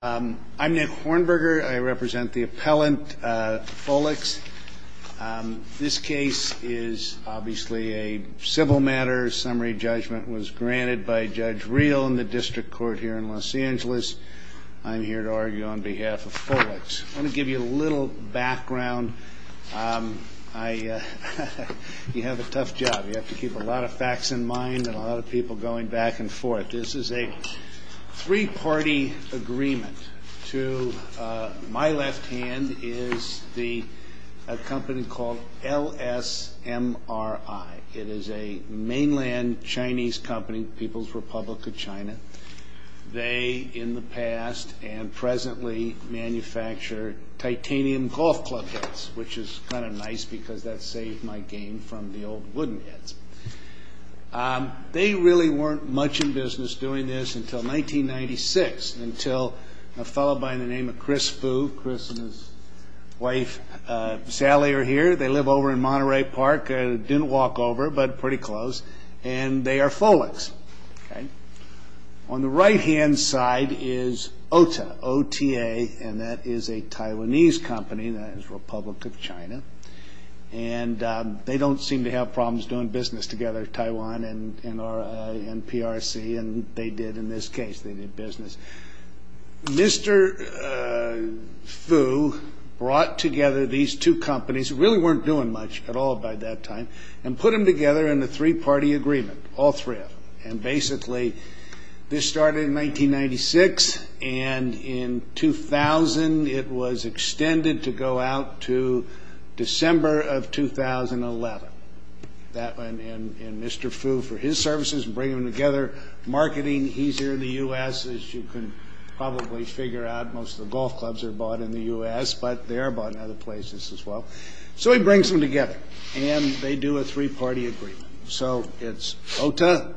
I'm Nick Hornberger. I represent the appellant, Folex. This case is obviously a civil matter. Summary judgment was granted by Judge Reel in the District Court here in Los Angeles. I'm here to argue on behalf of Folex. I want to give you a little background. You have a tough job. You have to keep a lot of facts in mind and a lot of people going back and forth. This is a three-party agreement. To my left hand is a company called LSMRI. It is a mainland Chinese company, People's Republic of China. They, in the past and presently, manufacture titanium golf club heads, which is kind of nice because that saved my game from the old wooden heads. They really weren't much in business doing this until 1996, until a fellow by the name of Chris Fu, Chris and his wife Sally, are here. They live over in Monterey Park. They didn't walk over, but pretty close, and they are Folex. On the right hand side is OTA, O-T-A, and that is a Taiwanese company. That is Republic of China. They don't seem to have problems doing business together, Taiwan and PRC, and they did in this case. They did business. Mr. Fu brought together these two companies, who really weren't doing much at all by that time, and put them together in a three-party agreement, all three of them. Basically, this started in 1996, and in 2000, it was extended to go out to December of 2011, and Mr. Fu, for his services, bring them together. Marketing, he's here in the U.S. As you can probably figure out, most of the golf clubs are bought in the U.S., but they are bought in other places as well. So he brings them together, and they do a three-party agreement. So it's OTA,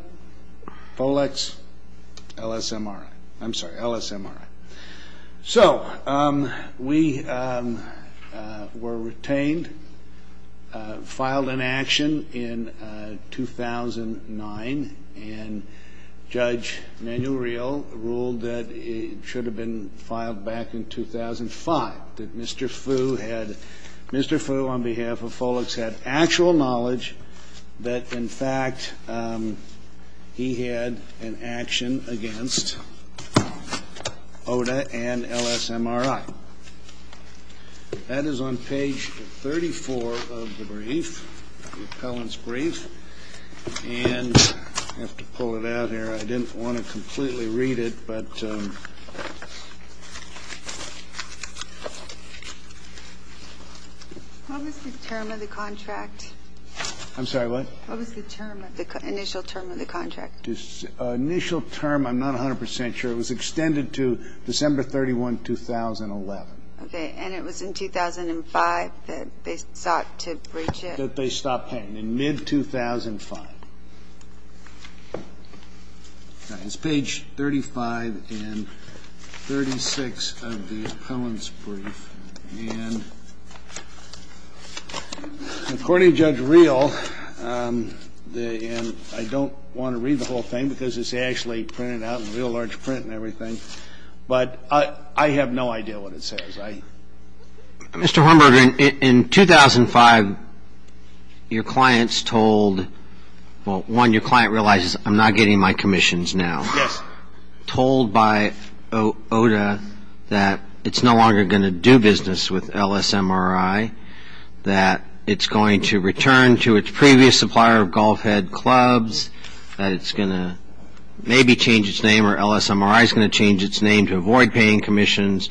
Folex, LSMRI. I'm sorry, LSMRI. So we were retained, filed in action in 2009, and Judge Manuel ruled that it should have been filed back in 2005, that Mr. Fu on behalf of Folex had actual knowledge that, in fact, he had an action against OTA and LSMRI. That is on page 34 of the brief, the appellant's brief. And I have to pull it out here. I didn't want to completely read it. I'm sorry, what? What was the term of the initial term of the contract? Initial term, I'm not 100 percent sure. It was extended to December 31, 2011. Okay. And it was in 2005 that they sought to breach it? That they stopped paying in mid-2005. It's page 35 and 36 of the appellant's brief. And according to Judge Reel, and I don't want to read the whole thing because it's actually printed out in real large print and everything, but I have no idea what it says. Mr. Hornberg, in 2005, your client's told, well, one, your client realizes, I'm not getting my commissions now. Yes. Told by OTA that it's no longer going to do business with LSMRI, that it's going to return to its previous supplier of golf head clubs, that it's going to maybe change its name, or LSMRI is going to change its name to avoid paying commissions.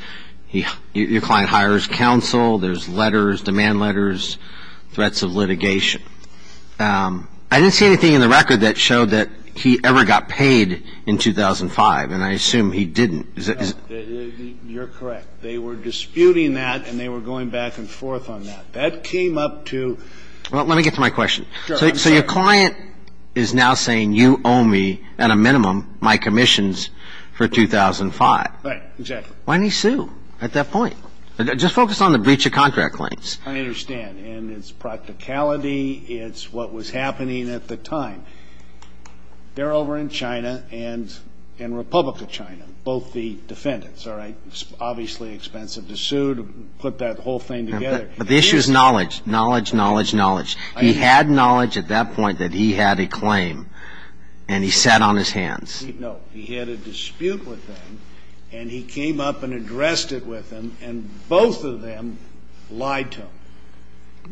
Your client hires counsel. There's letters, demand letters, threats of litigation. I didn't see anything in the record that showed that he ever got paid in 2005, and I assume he didn't. You're correct. They were disputing that, and they were going back and forth on that. That came up to ---- Well, let me get to my question. Sure. I'm sorry. So your client is now saying you owe me, at a minimum, my commissions for 2005. Right. Exactly. Why didn't he sue at that point? Just focus on the breach of contract claims. I understand, and it's practicality. It's what was happening at the time. They're over in China and in Republic of China, both the defendants, all right? It's obviously expensive to sue to put that whole thing together. But the issue is knowledge, knowledge, knowledge, knowledge. He had knowledge at that point that he had a claim, and he sat on his hands. No. He had a dispute with them, and he came up and addressed it with them, and both of them lied to him.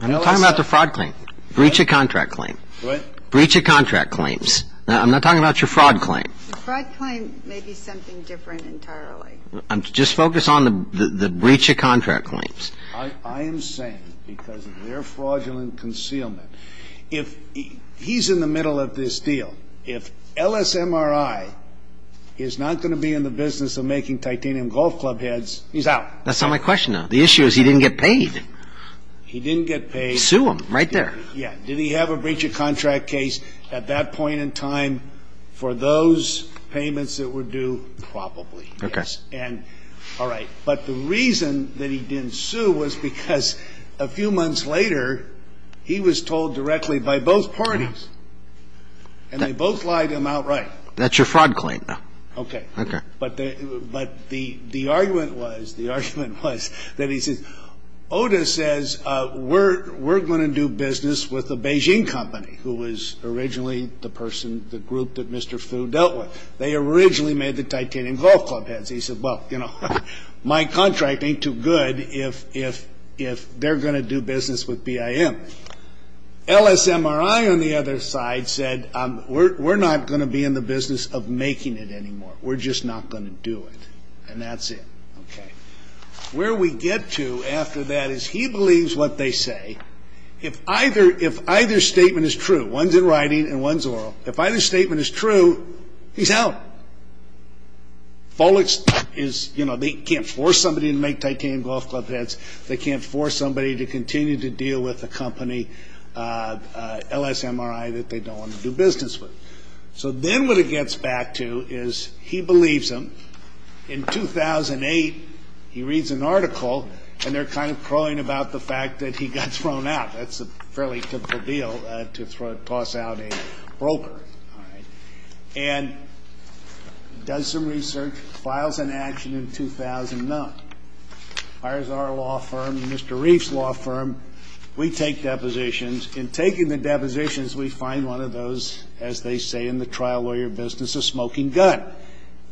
I'm not talking about the fraud claim. Breach of contract claim. What? Breach of contract claims. I'm not talking about your fraud claim. The fraud claim may be something different entirely. Just focus on the breach of contract claims. I am saying, because of their fraudulent concealment, if he's in the middle of this deal, if LSMRI is not going to be in the business of making titanium golf club heads, he's out. That's not my question, though. The issue is he didn't get paid. He didn't get paid. Sue him right there. Yeah. Did he have a breach of contract case at that point in time for those payments that were due? Probably, yes. Okay. All right. But the reason that he didn't sue was because a few months later he was told directly by both parties, and they both lied to him outright. That's your fraud claim, though. Okay. Okay. But the argument was, the argument was that he said, OTA says we're going to do business with a Beijing company, who was originally the person, the group that Mr. Fu dealt with. They originally made the titanium golf club heads. He said, well, you know, my contract ain't too good if they're going to do business with BIM. LSMRI on the other side said, we're not going to be in the business of making it anymore. We're just not going to do it. And that's it. Okay. Where we get to after that is he believes what they say. If either statement is true, one's in writing and one's oral, if either statement is true, he's out. Folex is, you know, they can't force somebody to make titanium golf club heads. They can't force somebody to continue to deal with a company, LSMRI, that they don't want to do business with. So then what it gets back to is he believes them. In 2008, he reads an article, and they're kind of crawling about the fact that he got thrown out. That's a fairly typical deal to toss out a broker. All right. And does some research, files an action in 2009. Hires our law firm, Mr. Reif's law firm. We take depositions. In taking the depositions, we find one of those, as they say in the trial lawyer business, a smoking gun.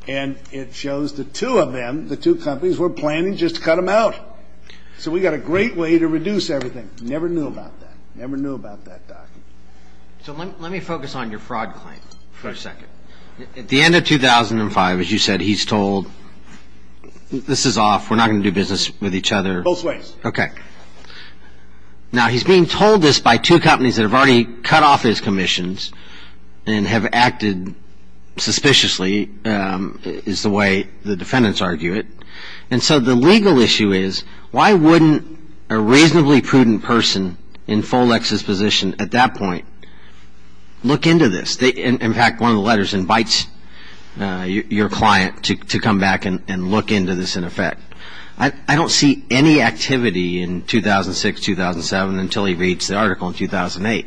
And it shows the two of them, the two companies, were planning just to cut them out. So we've got a great way to reduce everything. Never knew about that. Never knew about that, Doc. So let me focus on your fraud claim for a second. At the end of 2005, as you said, he's told, this is off. We're not going to do business with each other. Both ways. Okay. Now, he's being told this by two companies that have already cut off his commissions and have acted suspiciously, is the way the defendants argue it. And so the legal issue is, why wouldn't a reasonably prudent person in Folex's position at that point look into this? In fact, one of the letters invites your client to come back and look into this in effect. I don't see any activity in 2006, 2007, until he reads the article in 2008.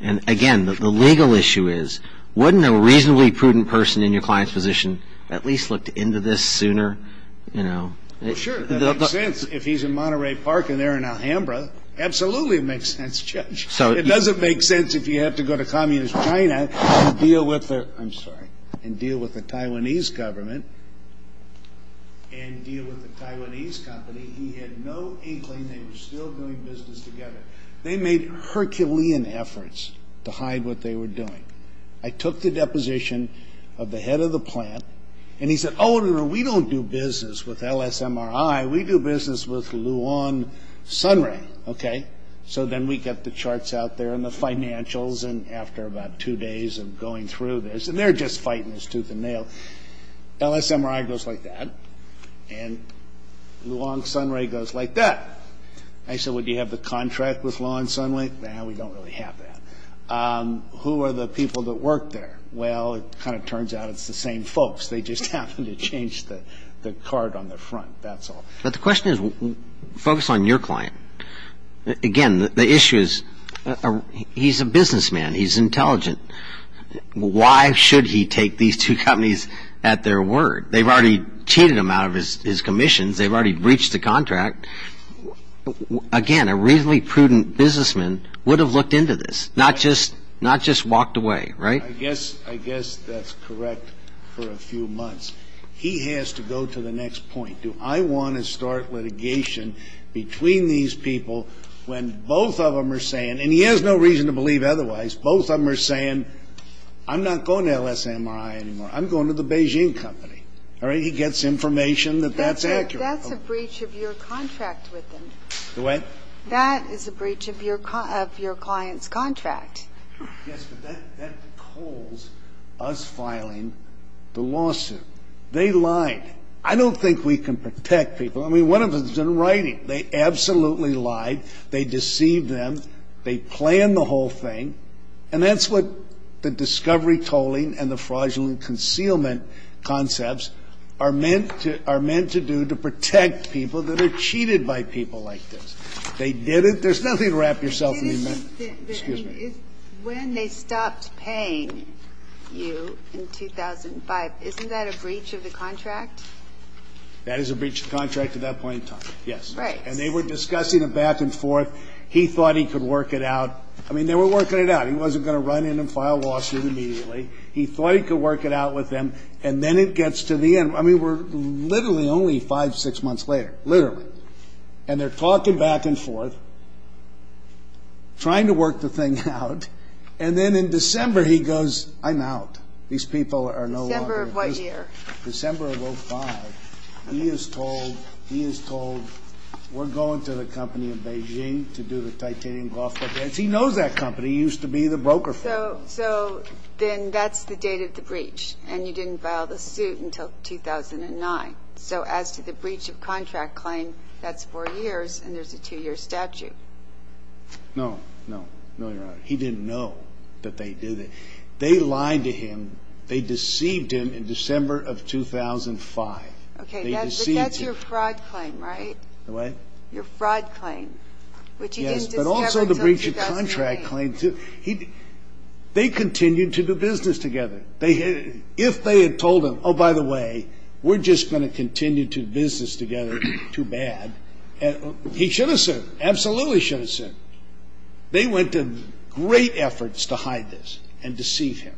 And, again, the legal issue is, wouldn't a reasonably prudent person in your client's position at least look into this sooner? Well, sure. That makes sense if he's in Monterey Park and they're in Alhambra. Absolutely it makes sense, Judge. It doesn't make sense if you have to go to communist China and deal with the Taiwanese government and deal with the Taiwanese company. He had no inkling they were still doing business together. They made Herculean efforts to hide what they were doing. I took the deposition of the head of the plant, and he said, oh, we don't do business with LSMRI. We do business with Luan Sunrui. Okay. So then we get the charts out there and the financials, and after about two days of going through this, and they're just fighting this tooth and nail. LSMRI goes like that, and Luan Sunrui goes like that. I said, well, do you have the contract with Luan Sunrui? No, we don't really have that. Who are the people that work there? Well, it kind of turns out it's the same folks. They just happen to change the card on the front. That's all. But the question is, focus on your client. Again, the issue is he's a businessman. He's intelligent. Why should he take these two companies at their word? They've already cheated him out of his commissions. They've already breached the contract. Again, a reasonably prudent businessman would have looked into this, not just walked away, right? I guess that's correct for a few months. He has to go to the next point. Do I want to start litigation between these people when both of them are saying, and he has no reason to believe otherwise, both of them are saying, I'm not going to LSMRI anymore. I'm going to the Beijing company. He gets information that that's accurate. That's a breach of your contract with them. The what? That is a breach of your client's contract. Yes, but that calls us filing the lawsuit. They lied. I don't think we can protect people. I mean, one of them is in writing. They absolutely lied. They deceived them. They planned the whole thing. And that's what the discovery tolling and the fraudulent concealment concepts are meant to do, to protect people that are cheated by people like this. They did it. There's nothing to wrap yourself in. Excuse me. When they stopped paying you in 2005, isn't that a breach of the contract? That is a breach of contract at that point in time, yes. Right. And they were discussing it back and forth. He thought he could work it out. I mean, they were working it out. He wasn't going to run in and file a lawsuit immediately. He thought he could work it out with them. And then it gets to the end. I mean, we're literally only five, six months later, literally. And they're talking back and forth, trying to work the thing out. And then in December he goes, I'm out. These people are no longer. December of what year? December of 2005. He is told, he is told, we're going to the company in Beijing to do the titanium golf club. He knows that company. He used to be the broker for them. So then that's the date of the breach. And you didn't file the suit until 2009. So as to the breach of contract claim, that's four years, and there's a two-year statute. No. No. No, Your Honor. He didn't know that they did it. They lied to him. They deceived him in December of 2005. Okay. But that's your fraud claim, right? What? Your fraud claim, which he didn't discover until 2008. Yes, but also the breach of contract claim, too. They continued to do business together. If they had told him, oh, by the way, we're just going to continue to do business together, too bad, he should have sued, absolutely should have sued. They went to great efforts to hide this and deceive him.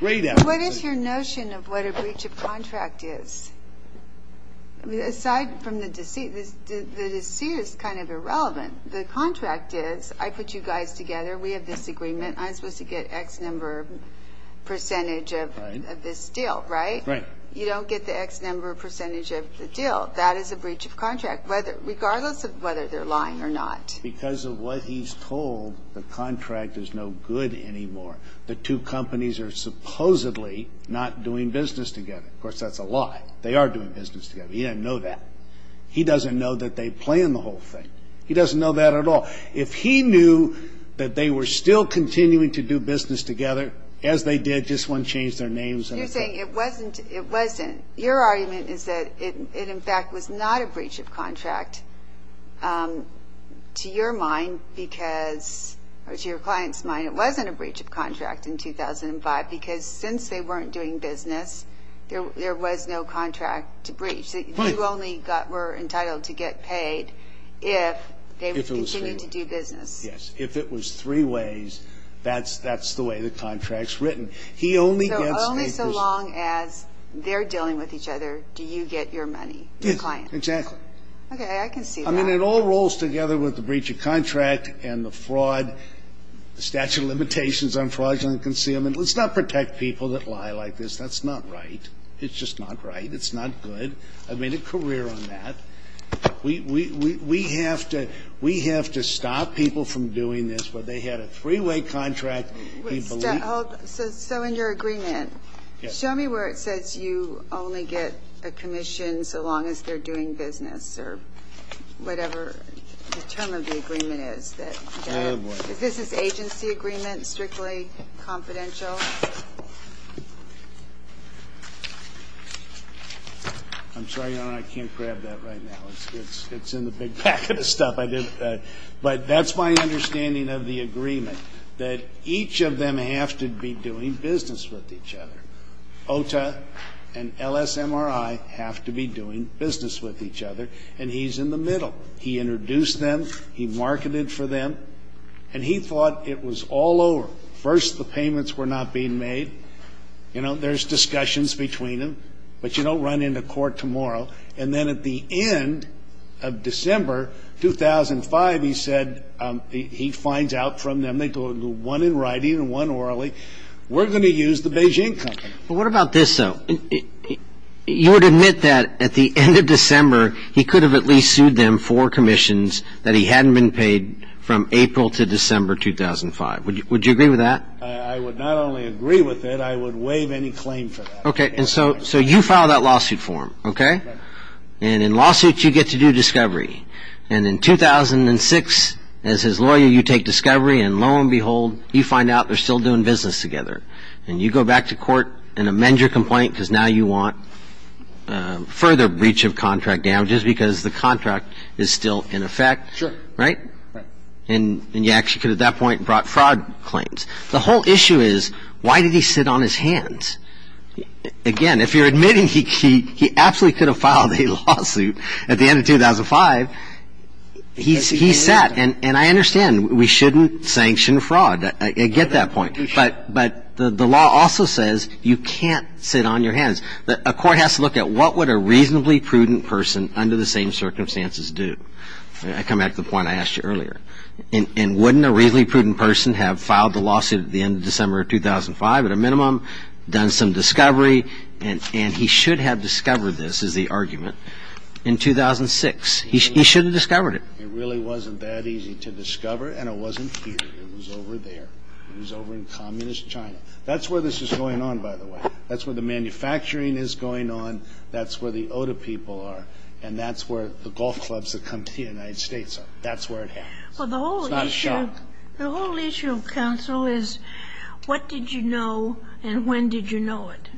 Great efforts. What is your notion of what a breach of contract is? Aside from the deceit, the deceit is kind of irrelevant. The contract is, I put you guys together, we have this agreement, I'm supposed to get X number percentage of this deal, right? Right. You don't get the X number percentage of the deal. That is a breach of contract, regardless of whether they're lying or not. Because of what he's told, the contract is no good anymore. The two companies are supposedly not doing business together. Of course, that's a lie. They are doing business together. He didn't know that. He doesn't know that they planned the whole thing. He doesn't know that at all. If he knew that they were still continuing to do business together, as they did, just wouldn't change their names. You're saying it wasn't. Your argument is that it, in fact, was not a breach of contract, to your mind, because, or to your client's mind, it wasn't a breach of contract in 2005, because since they weren't doing business, there was no contract to breach. You only were entitled to get paid if they continued to do business. Yes. If it was three ways, that's the way the contract's written. He only gets a person. So only so long as they're dealing with each other do you get your money, your client. Yes, exactly. Okay, I can see that. I mean, it all rolls together with the breach of contract and the fraud, the statute of limitations on fraudulent concealment. Let's not protect people that lie like this. That's not right. It's just not right. It's not good. I've made a career on that. We have to stop people from doing this. They had a three-way contract. So in your agreement, show me where it says you only get a commission so long as they're doing business or whatever the term of the agreement is. This is agency agreement, strictly confidential? I'm sorry, Your Honor, I can't grab that right now. It's in the big packet of stuff I did. But that's my understanding of the agreement, that each of them have to be doing business with each other. OTA and LSMRI have to be doing business with each other. And he's in the middle. He introduced them. He marketed for them. And he thought it was all over. He said, well, first the payments were not being made. You know, there's discussions between them. But you don't run into court tomorrow. And then at the end of December 2005, he said he finds out from them. They go to one in writing and one orally. We're going to use the Beijing company. But what about this, though? You would admit that at the end of December he could have at least sued them for commissions that he hadn't been paid from April to December 2005. Would you agree with that? I would not only agree with it. I would waive any claim for that. Okay. And so you file that lawsuit form, okay? Right. And in lawsuits you get to do discovery. And in 2006, as his lawyer, you take discovery. And lo and behold, you find out they're still doing business together. And you go back to court and amend your complaint because now you want further breach of contract damages because the contract is still in effect. Sure. Right? Right. And you actually could at that point have brought fraud claims. The whole issue is why did he sit on his hands? Again, if you're admitting he absolutely could have filed a lawsuit at the end of 2005, he sat. And I understand we shouldn't sanction fraud. I get that point. But the law also says you can't sit on your hands. A court has to look at what would a reasonably prudent person under the same circumstances do. I come back to the point I asked you earlier. And wouldn't a reasonably prudent person have filed the lawsuit at the end of December of 2005 at a minimum, done some discovery? And he should have discovered this is the argument in 2006. He should have discovered it. It really wasn't that easy to discover. And it wasn't here. It was over there. It was over in communist China. That's where this is going on, by the way. That's where the manufacturing is going on. That's where the Oda people are. And that's where the golf clubs that come to the United States are. That's where it happens. It's not a shock. The whole issue of counsel is what did you know and when did you know it?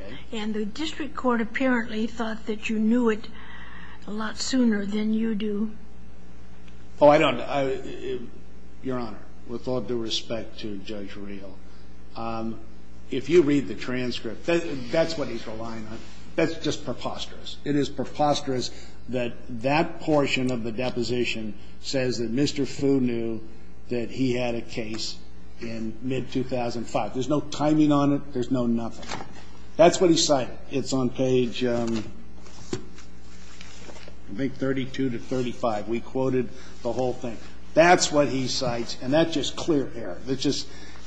Okay. And the district court apparently thought that you knew it a lot sooner than you do. Oh, I don't. Your Honor, with all due respect to Judge Reel, if you read the transcript, that's what he's relying on. That's just preposterous. It is preposterous that that portion of the deposition says that Mr. Fu knew that he had a case in mid-2005. There's no timing on it. There's no nothing. That's what he cited. It's on page, I think, 32 to 35. We quoted the whole thing. That's what he cites, and that's just clear air.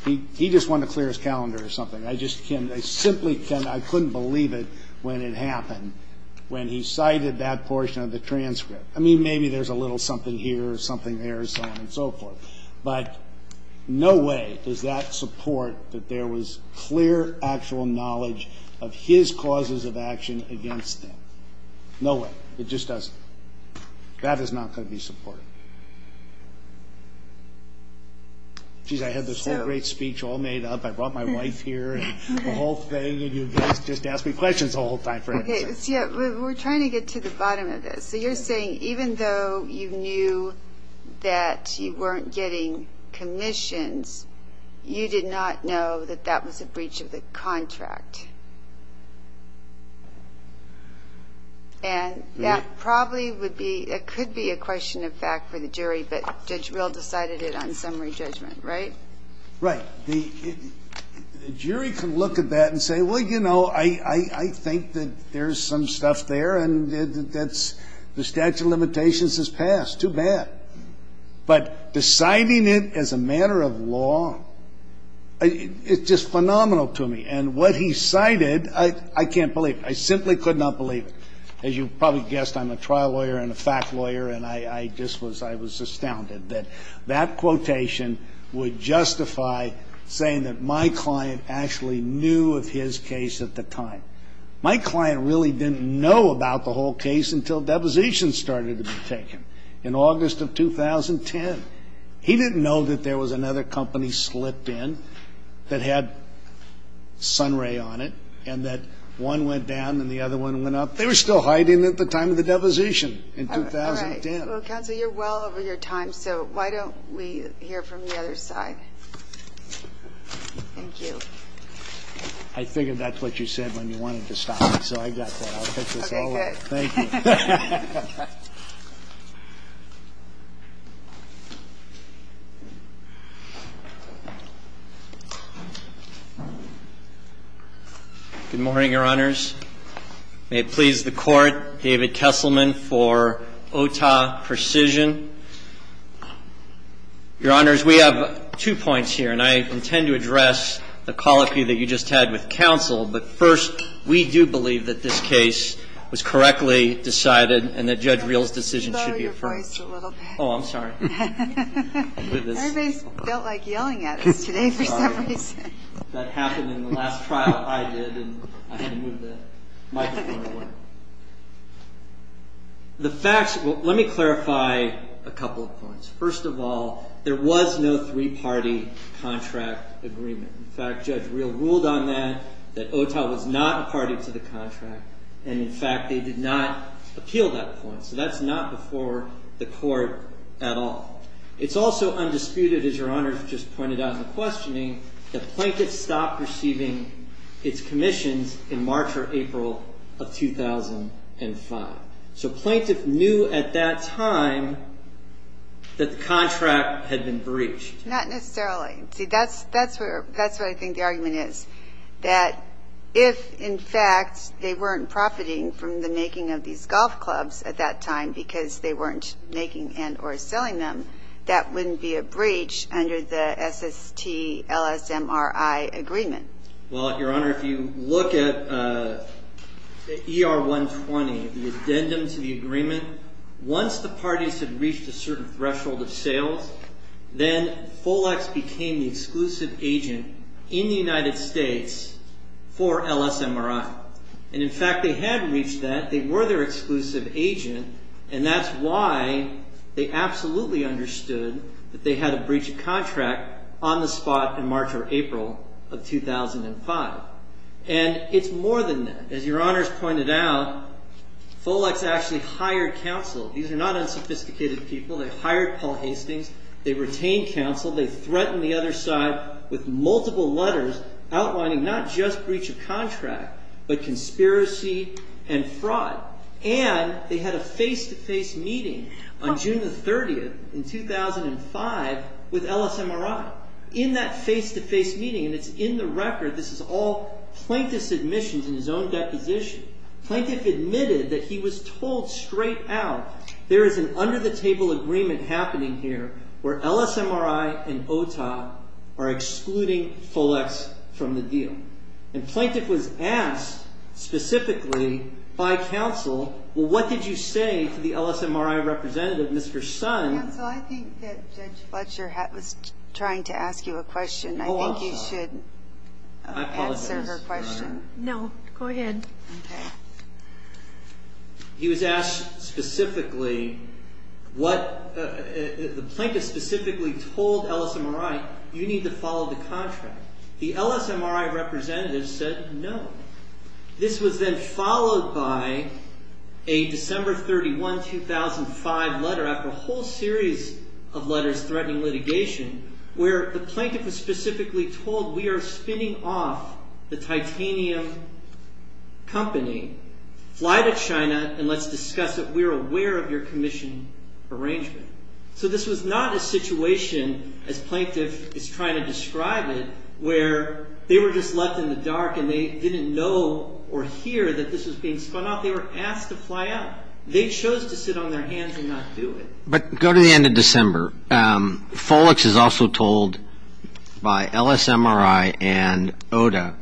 He just wanted to clear his calendar or something. I just can't. I simply can't. I couldn't believe it when it happened, when he cited that portion of the transcript. I mean, maybe there's a little something here or something there, so on and so forth. But no way does that support that there was clear, actual knowledge of his causes of action against him. No way. It just doesn't. That is not going to be supported. Geez, I had this whole great speech all made up. I brought my wife here and the whole thing, and you guys just ask me questions the whole time. We're trying to get to the bottom of this. So you're saying even though you knew that you weren't getting commissions, you did not know that that was a breach of the contract. And that probably would be or could be a question of fact for the jury, but Judge Rill decided it on summary judgment, right? Right. The jury can look at that and say, well, you know, I think that there's some stuff there, and the statute of limitations has passed. Too bad. But deciding it as a matter of law, it's just phenomenal to me. And what he cited, I can't believe it. I simply could not believe it. As you probably guessed, I'm a trial lawyer and a fact lawyer, and I just was astounded that that quotation would justify saying that my client actually knew of his case at the time. My client really didn't know about the whole case until depositions started to be taken in August of 2010. He didn't know that there was another company slipped in that had Sunray on it and that one went down and the other one went up. They were still hiding at the time of the deposition in 2010. All right. Well, counsel, you're well over your time, so why don't we hear from the other side? Thank you. I figured that's what you said when you wanted to stop me, so I got that. I'll take this over. Okay, good. Thank you. Good morning, Your Honors. May it please the Court, David Kesselman for Otah Precision. Your Honors, we have two points here, and I intend to address the colloquy that you just had with counsel. But first, we do believe that this case was correctly decided and that Judge Reel's decision should be affirmed. Can you lower your voice a little bit? Oh, I'm sorry. Everybody's felt like yelling at us today for some reason. That happened in the last trial I did, and I had to move the microphone away. The facts, let me clarify a couple of points. First of all, there was no three-party contract agreement. In fact, Judge Reel ruled on that, that Otah was not a party to the contract, and, in fact, they did not appeal that point. So that's not before the Court at all. It's also undisputed, as Your Honors just pointed out in the questioning, that plaintiffs stopped receiving its commissions in March or April of 2005. So plaintiff knew at that time that the contract had been breached. Not necessarily. See, that's what I think the argument is, that if, in fact, they weren't profiting from the making of these golf clubs at that time because they weren't making and or selling them, that wouldn't be a breach under the SST-LSMRI agreement. Well, Your Honor, if you look at ER-120, the addendum to the agreement, once the parties had reached a certain threshold of sales, then Folex became the exclusive agent in the United States for LSMRI. And, in fact, they had reached that. They were their exclusive agent, and that's why they absolutely understood that they had a breach of contract on the spot in March or April of 2005. And it's more than that. As Your Honors pointed out, Folex actually hired counsel. These are not unsophisticated people. They hired Paul Hastings. They retained counsel. They threatened the other side with multiple letters outlining not just breach of contract but conspiracy and fraud. And they had a face-to-face meeting on June the 30th in 2005 with LSMRI. In that face-to-face meeting, and it's in the record, this is all plaintiff's admissions in his own deposition, plaintiff admitted that he was told straight out there is an under-the-table agreement happening here where LSMRI and OTOP are excluding Folex from the deal. And plaintiff was asked specifically by counsel, well, what did you say to the LSMRI representative, Mr. Sun? Counsel, I think that Judge Fletcher was trying to ask you a question. Oh, I'm sorry. I think you should answer her question. No, go ahead. He was asked specifically what the plaintiff specifically told LSMRI, you need to follow the contract. The LSMRI representative said no. This was then followed by a December 31, 2005 letter after a whole series of letters threatening litigation where the plaintiff was specifically told we are spinning off the titanium company. Fly to China and let's discuss it. We are aware of your commission arrangement. So this was not a situation as plaintiff is trying to describe it where they were just left in the dark and they didn't know or hear that this was being spun off. They were asked to fly out. They chose to sit on their hands and not do it. But go to the end of December. Folex is also told by LSMRI and OTA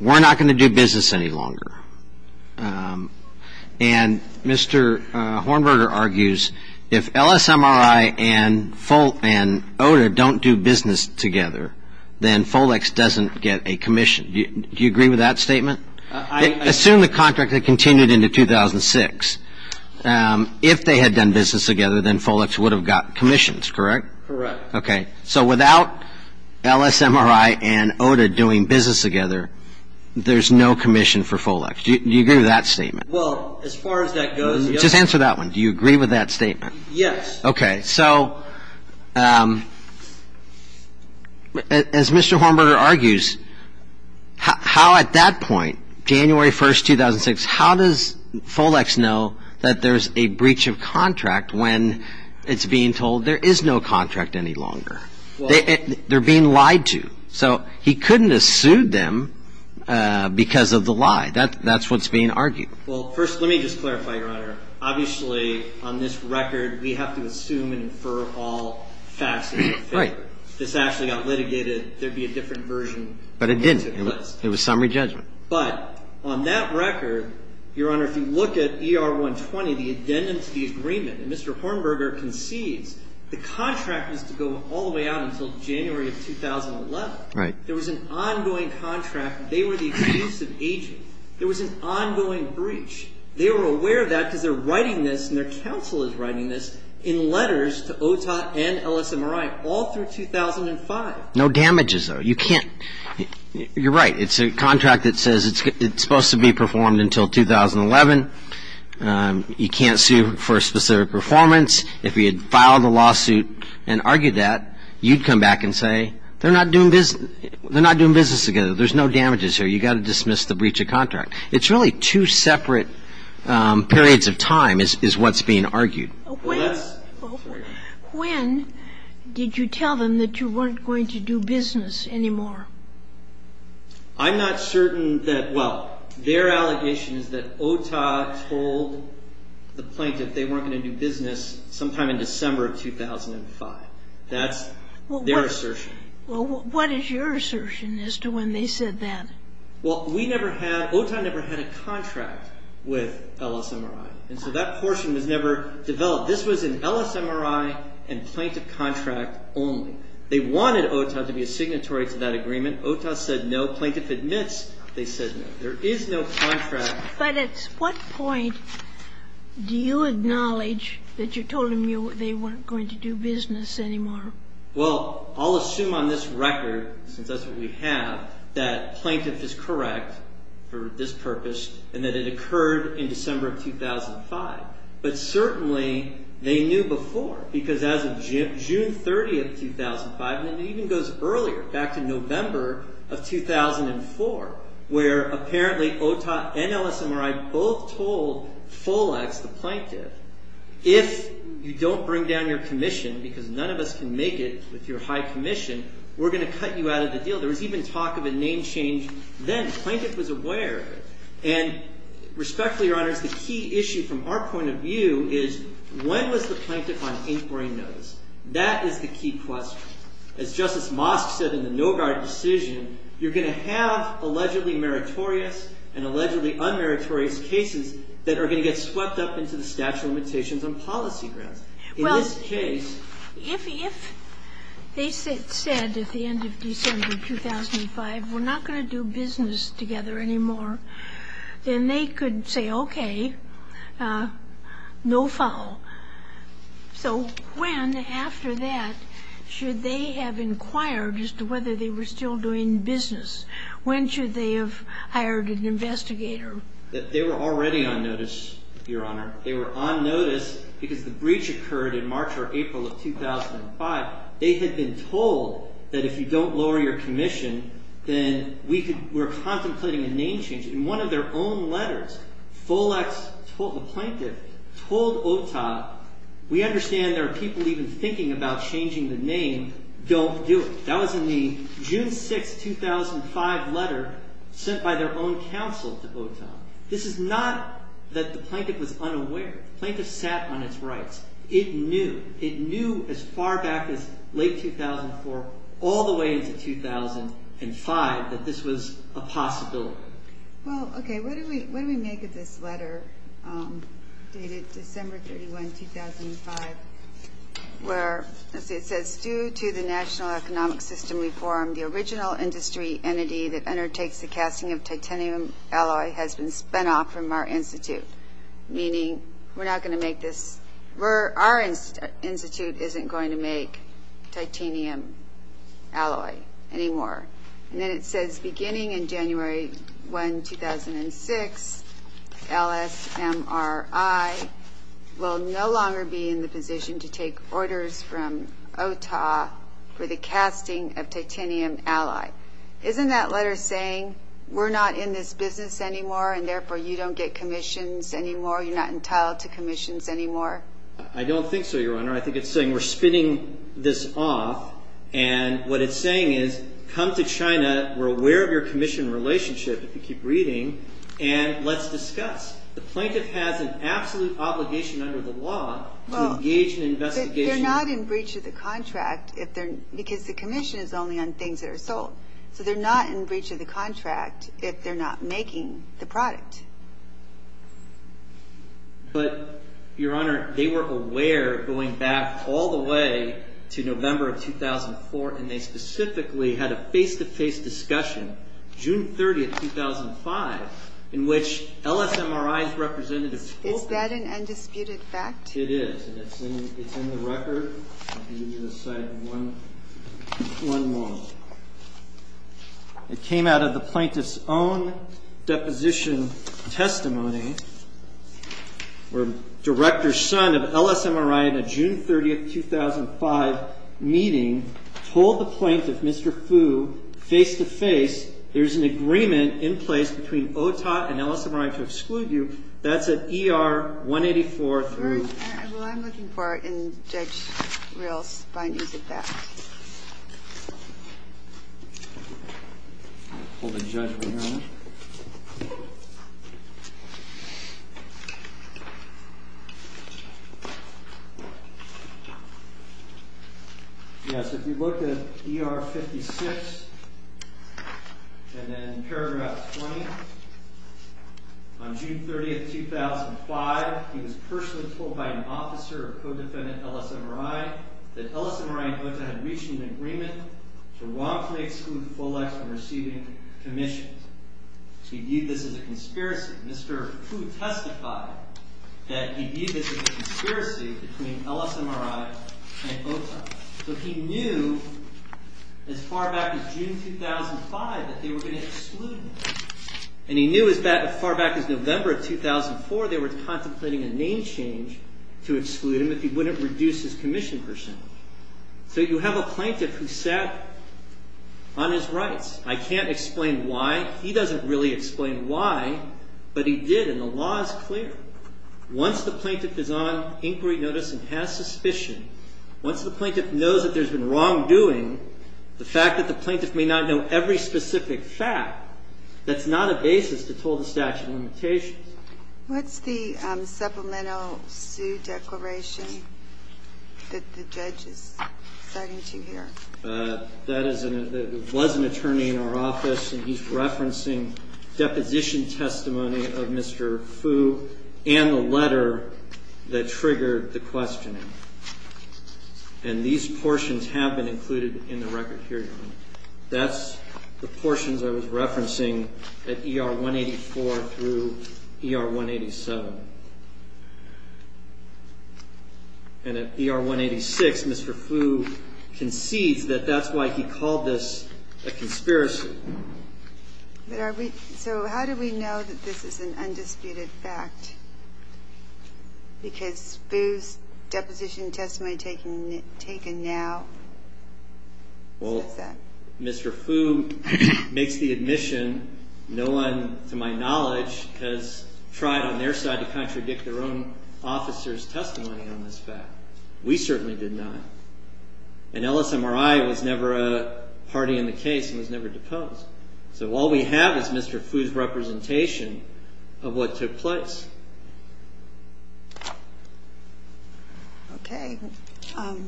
we're not going to do business any longer. And Mr. Hornberger argues if LSMRI and OTA don't do business together, then Folex doesn't get a commission. Do you agree with that statement? I assume the contract had continued into 2006. If they had done business together, then Folex would have got commissions, correct? Correct. Okay. So without LSMRI and OTA doing business together, there's no commission for Folex. Do you agree with that statement? Well, as far as that goes, yes. Just answer that one. Do you agree with that statement? Yes. Okay. So as Mr. Hornberger argues, how at that point, January 1, 2006, how does Folex know that there's a breach of contract when it's being told there is no contract any longer? They're being lied to. So he couldn't have sued them because of the lie. That's what's being argued. Well, first let me just clarify, Your Honor. Obviously, on this record, we have to assume and infer all facts in your favor. Right. If this actually got litigated, there would be a different version. But it didn't. It was summary judgment. But on that record, Your Honor, if you look at ER-120, the addendum to the agreement, and Mr. Hornberger concedes the contract was to go all the way out until January of 2011. Right. There was an ongoing contract. They were the exclusive agent. There was an ongoing breach. They were aware of that because they're writing this and their counsel is writing this in letters to OTOT and LSMRI all through 2005. No damages, though. You can't. You're right. It's a contract that says it's supposed to be performed until 2011. You can't sue for a specific performance. If you had filed a lawsuit and argued that, you'd come back and say they're not doing business together. There's no damages here. You've got to dismiss the breach of contract. It's really two separate periods of time is what's being argued. When did you tell them that you weren't going to do business anymore? I'm not certain that, well, their allegation is that OTA told the plaintiff they weren't going to do business sometime in December of 2005. That's their assertion. Well, what is your assertion as to when they said that? Well, we never had, OTA never had a contract with LSMRI, and so that portion was never developed. This was an LSMRI and plaintiff contract only. They wanted OTA to be a signatory to that agreement. OTA said no. Plaintiff admits they said no. There is no contract. But at what point do you acknowledge that you told them they weren't going to do business anymore? Well, I'll assume on this record, since that's what we have, that plaintiff is correct for this purpose and that it occurred in December of 2005. But certainly they knew before because as of June 30, 2005, and it even goes earlier, back to November of 2004, where apparently OTA and LSMRI both told Folex, the plaintiff, if you don't bring down your commission, because none of us can make it with your high commission, we're going to cut you out of the deal. There was even talk of a name change then. Plaintiff was aware of it. And respectfully, Your Honors, the key issue from our point of view is when was the plaintiff on inquiry notice? That is the key question. As Justice Mosk said in the No Guard decision, you're going to have allegedly meritorious and allegedly unmeritorious cases that are going to get swept up into the statute of limitations on policy grounds. Well, if they said at the end of December 2005, we're not going to do business together anymore, then they could say, okay, no foul. So when after that should they have inquired as to whether they were still doing business? When should they have hired an investigator? They were already on notice, Your Honor. They were on notice because the breach occurred in March or April of 2005. They had been told that if you don't lower your commission, then we're contemplating a name change. In one of their own letters, Folex, the plaintiff, told OTA, we understand there are people even thinking about changing the name. Don't do it. That was in the June 6, 2005 letter sent by their own counsel to OTA. This is not that the plaintiff was unaware. The plaintiff sat on its rights. It knew. It knew as far back as late 2004 all the way into 2005 that this was a possibility. Well, okay, what do we make of this letter dated December 31, 2005, where it says, due to the national economic system reform, the original industry entity that undertakes the casting of titanium alloy has been spun off from our institute, meaning we're not going to make this, our institute isn't going to make titanium alloy anymore. And then it says beginning in January 1, 2006, LSMRI will no longer be in the position to take orders from OTA for the casting of titanium alloy. Isn't that letter saying we're not in this business anymore, and therefore you don't get commissions anymore? You're not entitled to commissions anymore? I don't think so, Your Honor. I think it's saying we're spinning this off. And what it's saying is come to China. We're aware of your commission relationship, if you keep reading, and let's discuss. The plaintiff has an absolute obligation under the law to engage in investigation. They're not in breach of the contract because the commission is only on things that are sold. So they're not in breach of the contract if they're not making the product. But, Your Honor, they were aware going back all the way to November of 2004, and they specifically had a face-to-face discussion June 30, 2005, in which LSMRI's representatives told them. Is that an undisputed fact? It is, and it's in the record. I'll give you the site in one moment. It came out of the plaintiff's own deposition testimony, where Director Sun of LSMRI, in a June 30, 2005, meeting, told the plaintiff, Mr. Fu, face-to-face, there's an agreement in place between OTOT and LSMRI to exclude you. That's at ER 184 through. Well, I'm looking for it in Judge Rios' findings of that. Hold the judge right here a minute. Yes, if you look at ER 56 and then paragraph 20, on June 30, 2005, he was personally told by an officer of co-defendant LSMRI that LSMRI and OTOT had reached an agreement to wrongfully exclude Folex from receiving commissions. He viewed this as a conspiracy. Mr. Fu testified that he viewed this as a conspiracy between LSMRI and OTOT. So he knew as far back as June 2005 that they were going to exclude him, and he knew as far back as November of 2004 they were contemplating a name change to exclude him if he wouldn't reduce his commission percentage. So you have a plaintiff who sat on his rights. I can't explain why. He doesn't really explain why, but he did, and the law is clear. Once the plaintiff is on inquiry notice and has suspicion, once the plaintiff knows that there's been wrongdoing, the fact that the plaintiff may not know every specific fact, that's not a basis to toll the statute of limitations. What's the supplemental sue declaration that the judge is citing to you here? That is an attorney in our office, and he's referencing deposition testimony of Mr. Fu and the letter that triggered the questioning. And these portions have been included in the record here, Your Honor. That's the portions I was referencing at ER 184 through ER 187. And at ER 186, Mr. Fu concedes that that's why he called this a conspiracy. So how do we know that this is an undisputed fact? Because Fu's deposition testimony taken now says that. Well, Mr. Fu makes the admission no one, to my knowledge, has tried on their side to contradict their own officer's testimony on this fact. We certainly did not. And LSMRI was never a party in the case and was never deposed. So all we have is Mr. Fu's representation of what took place. Okay. To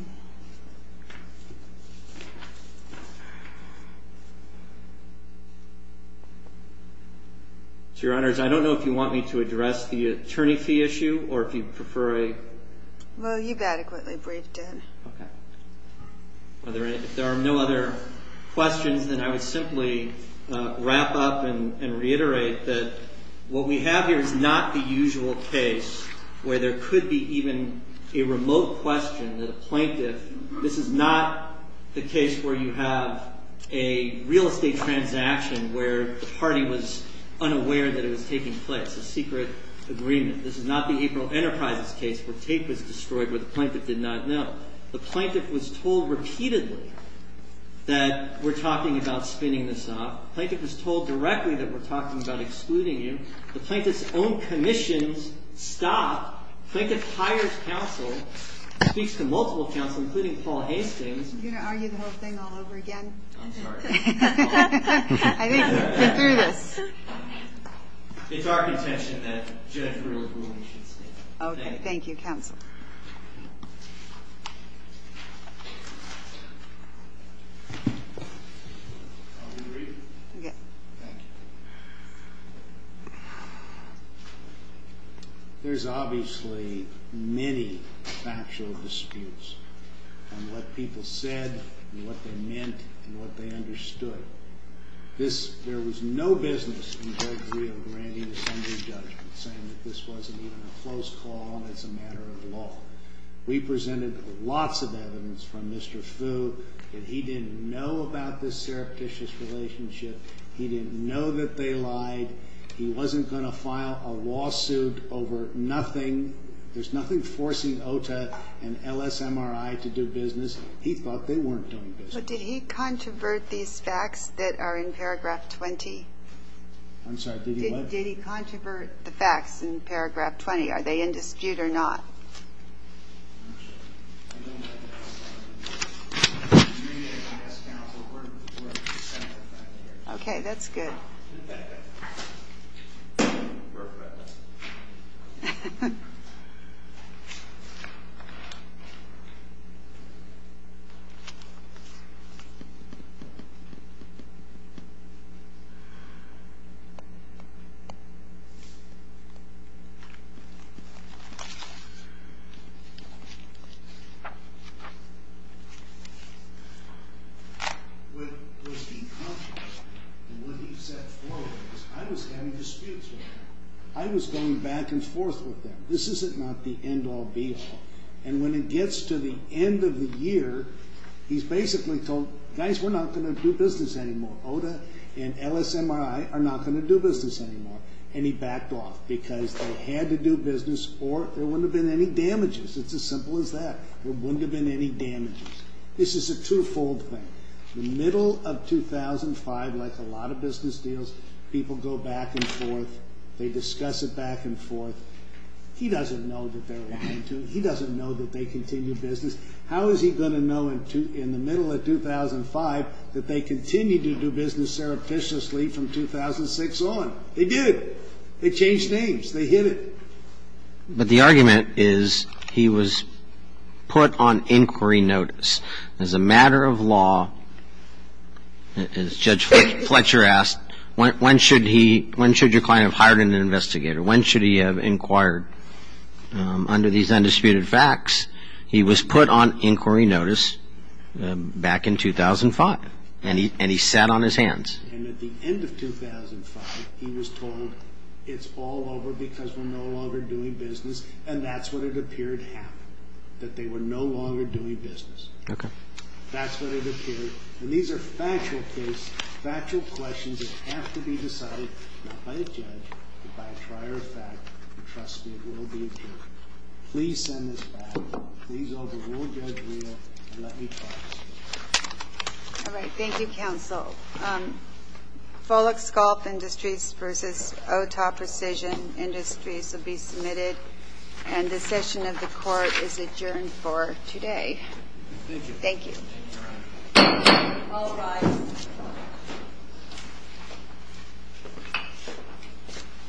Your Honors, I don't know if you want me to address the attorney fee issue, or if you prefer a... Well, you've adequately breathed it in. Okay. If there are no other questions, then I would simply wrap up and reiterate that what we have here is not the usual case where there could be even a remote question that a plaintiff... This is not the case where you have a real estate transaction where the party was unaware that it was taking place, a secret agreement. This is not the April Enterprises case where tape was destroyed, where the plaintiff did not know. The plaintiff was told repeatedly that we're talking about spinning this off. The plaintiff was told directly that we're talking about excluding you. The plaintiff's own commissions stopped. The plaintiff hires counsel, speaks to multiple counsel, including Paul Hastings. Are you going to argue the whole thing all over again? I'm sorry. I think we're through this. It's our contention that Judge Brewer's ruling should stand. Okay. Thank you, counsel. Thank you. Are we agreed? Yes. Thank you. There's obviously many factual disputes on what people said and what they meant and what they understood. There was no business in Judge Brewer granting this under-judgment, saying that this wasn't even a close call and it's a matter of law. We presented lots of evidence from Mr. Fu, and he didn't know about this surreptitious relationship. He didn't know that they lied. He wasn't going to file a lawsuit over nothing. There's nothing forcing OTA and LSMRI to do business. He thought they weren't doing business. But did he controvert these facts that are in paragraph 20? I'm sorry. Did he what? Controvert the facts in paragraph 20. Are they in dispute or not? Okay. That's good. Thank you. What was he conscious, and what he said forward was, I was having disputes with them. I was going back and forth with them. This is not the end-all, be-all. And when it gets to the end of the year, he's basically told, Guys, we're not going to do business anymore. OTA and LSMRI are not going to do business anymore. And he backed off because they had to do business or there wouldn't have been any damages. It's as simple as that. There wouldn't have been any damages. This is a two-fold thing. The middle of 2005, like a lot of business deals, people go back and forth. They discuss it back and forth. He doesn't know that they're in dispute. He doesn't know that they continue business. How is he going to know in the middle of 2005 that they continue to do business surreptitiously from 2006 on? They did it. They changed names. They hid it. But the argument is he was put on inquiry notice. As a matter of law, as Judge Fletcher asked, when should he ñ when should your client have hired an investigator? When should he have inquired? Under these undisputed facts, he was put on inquiry notice back in 2005, and he sat on his hands. And at the end of 2005, he was told it's all over because we're no longer doing business, and that's what it appeared happened, that they were no longer doing business. Okay. That's what it appeared. And these are factual questions that have to be decided, not by a judge, but by a prior fact. And trust me, it will be approved. Please send this back. Please overrule Judge Leo and let me talk to him. All right. Thank you, counsel. Folek Sculpt Industries v. Ota Precision Industries will be submitted, and the session of the Court is adjourned for today. Thank you. Thank you. All rise.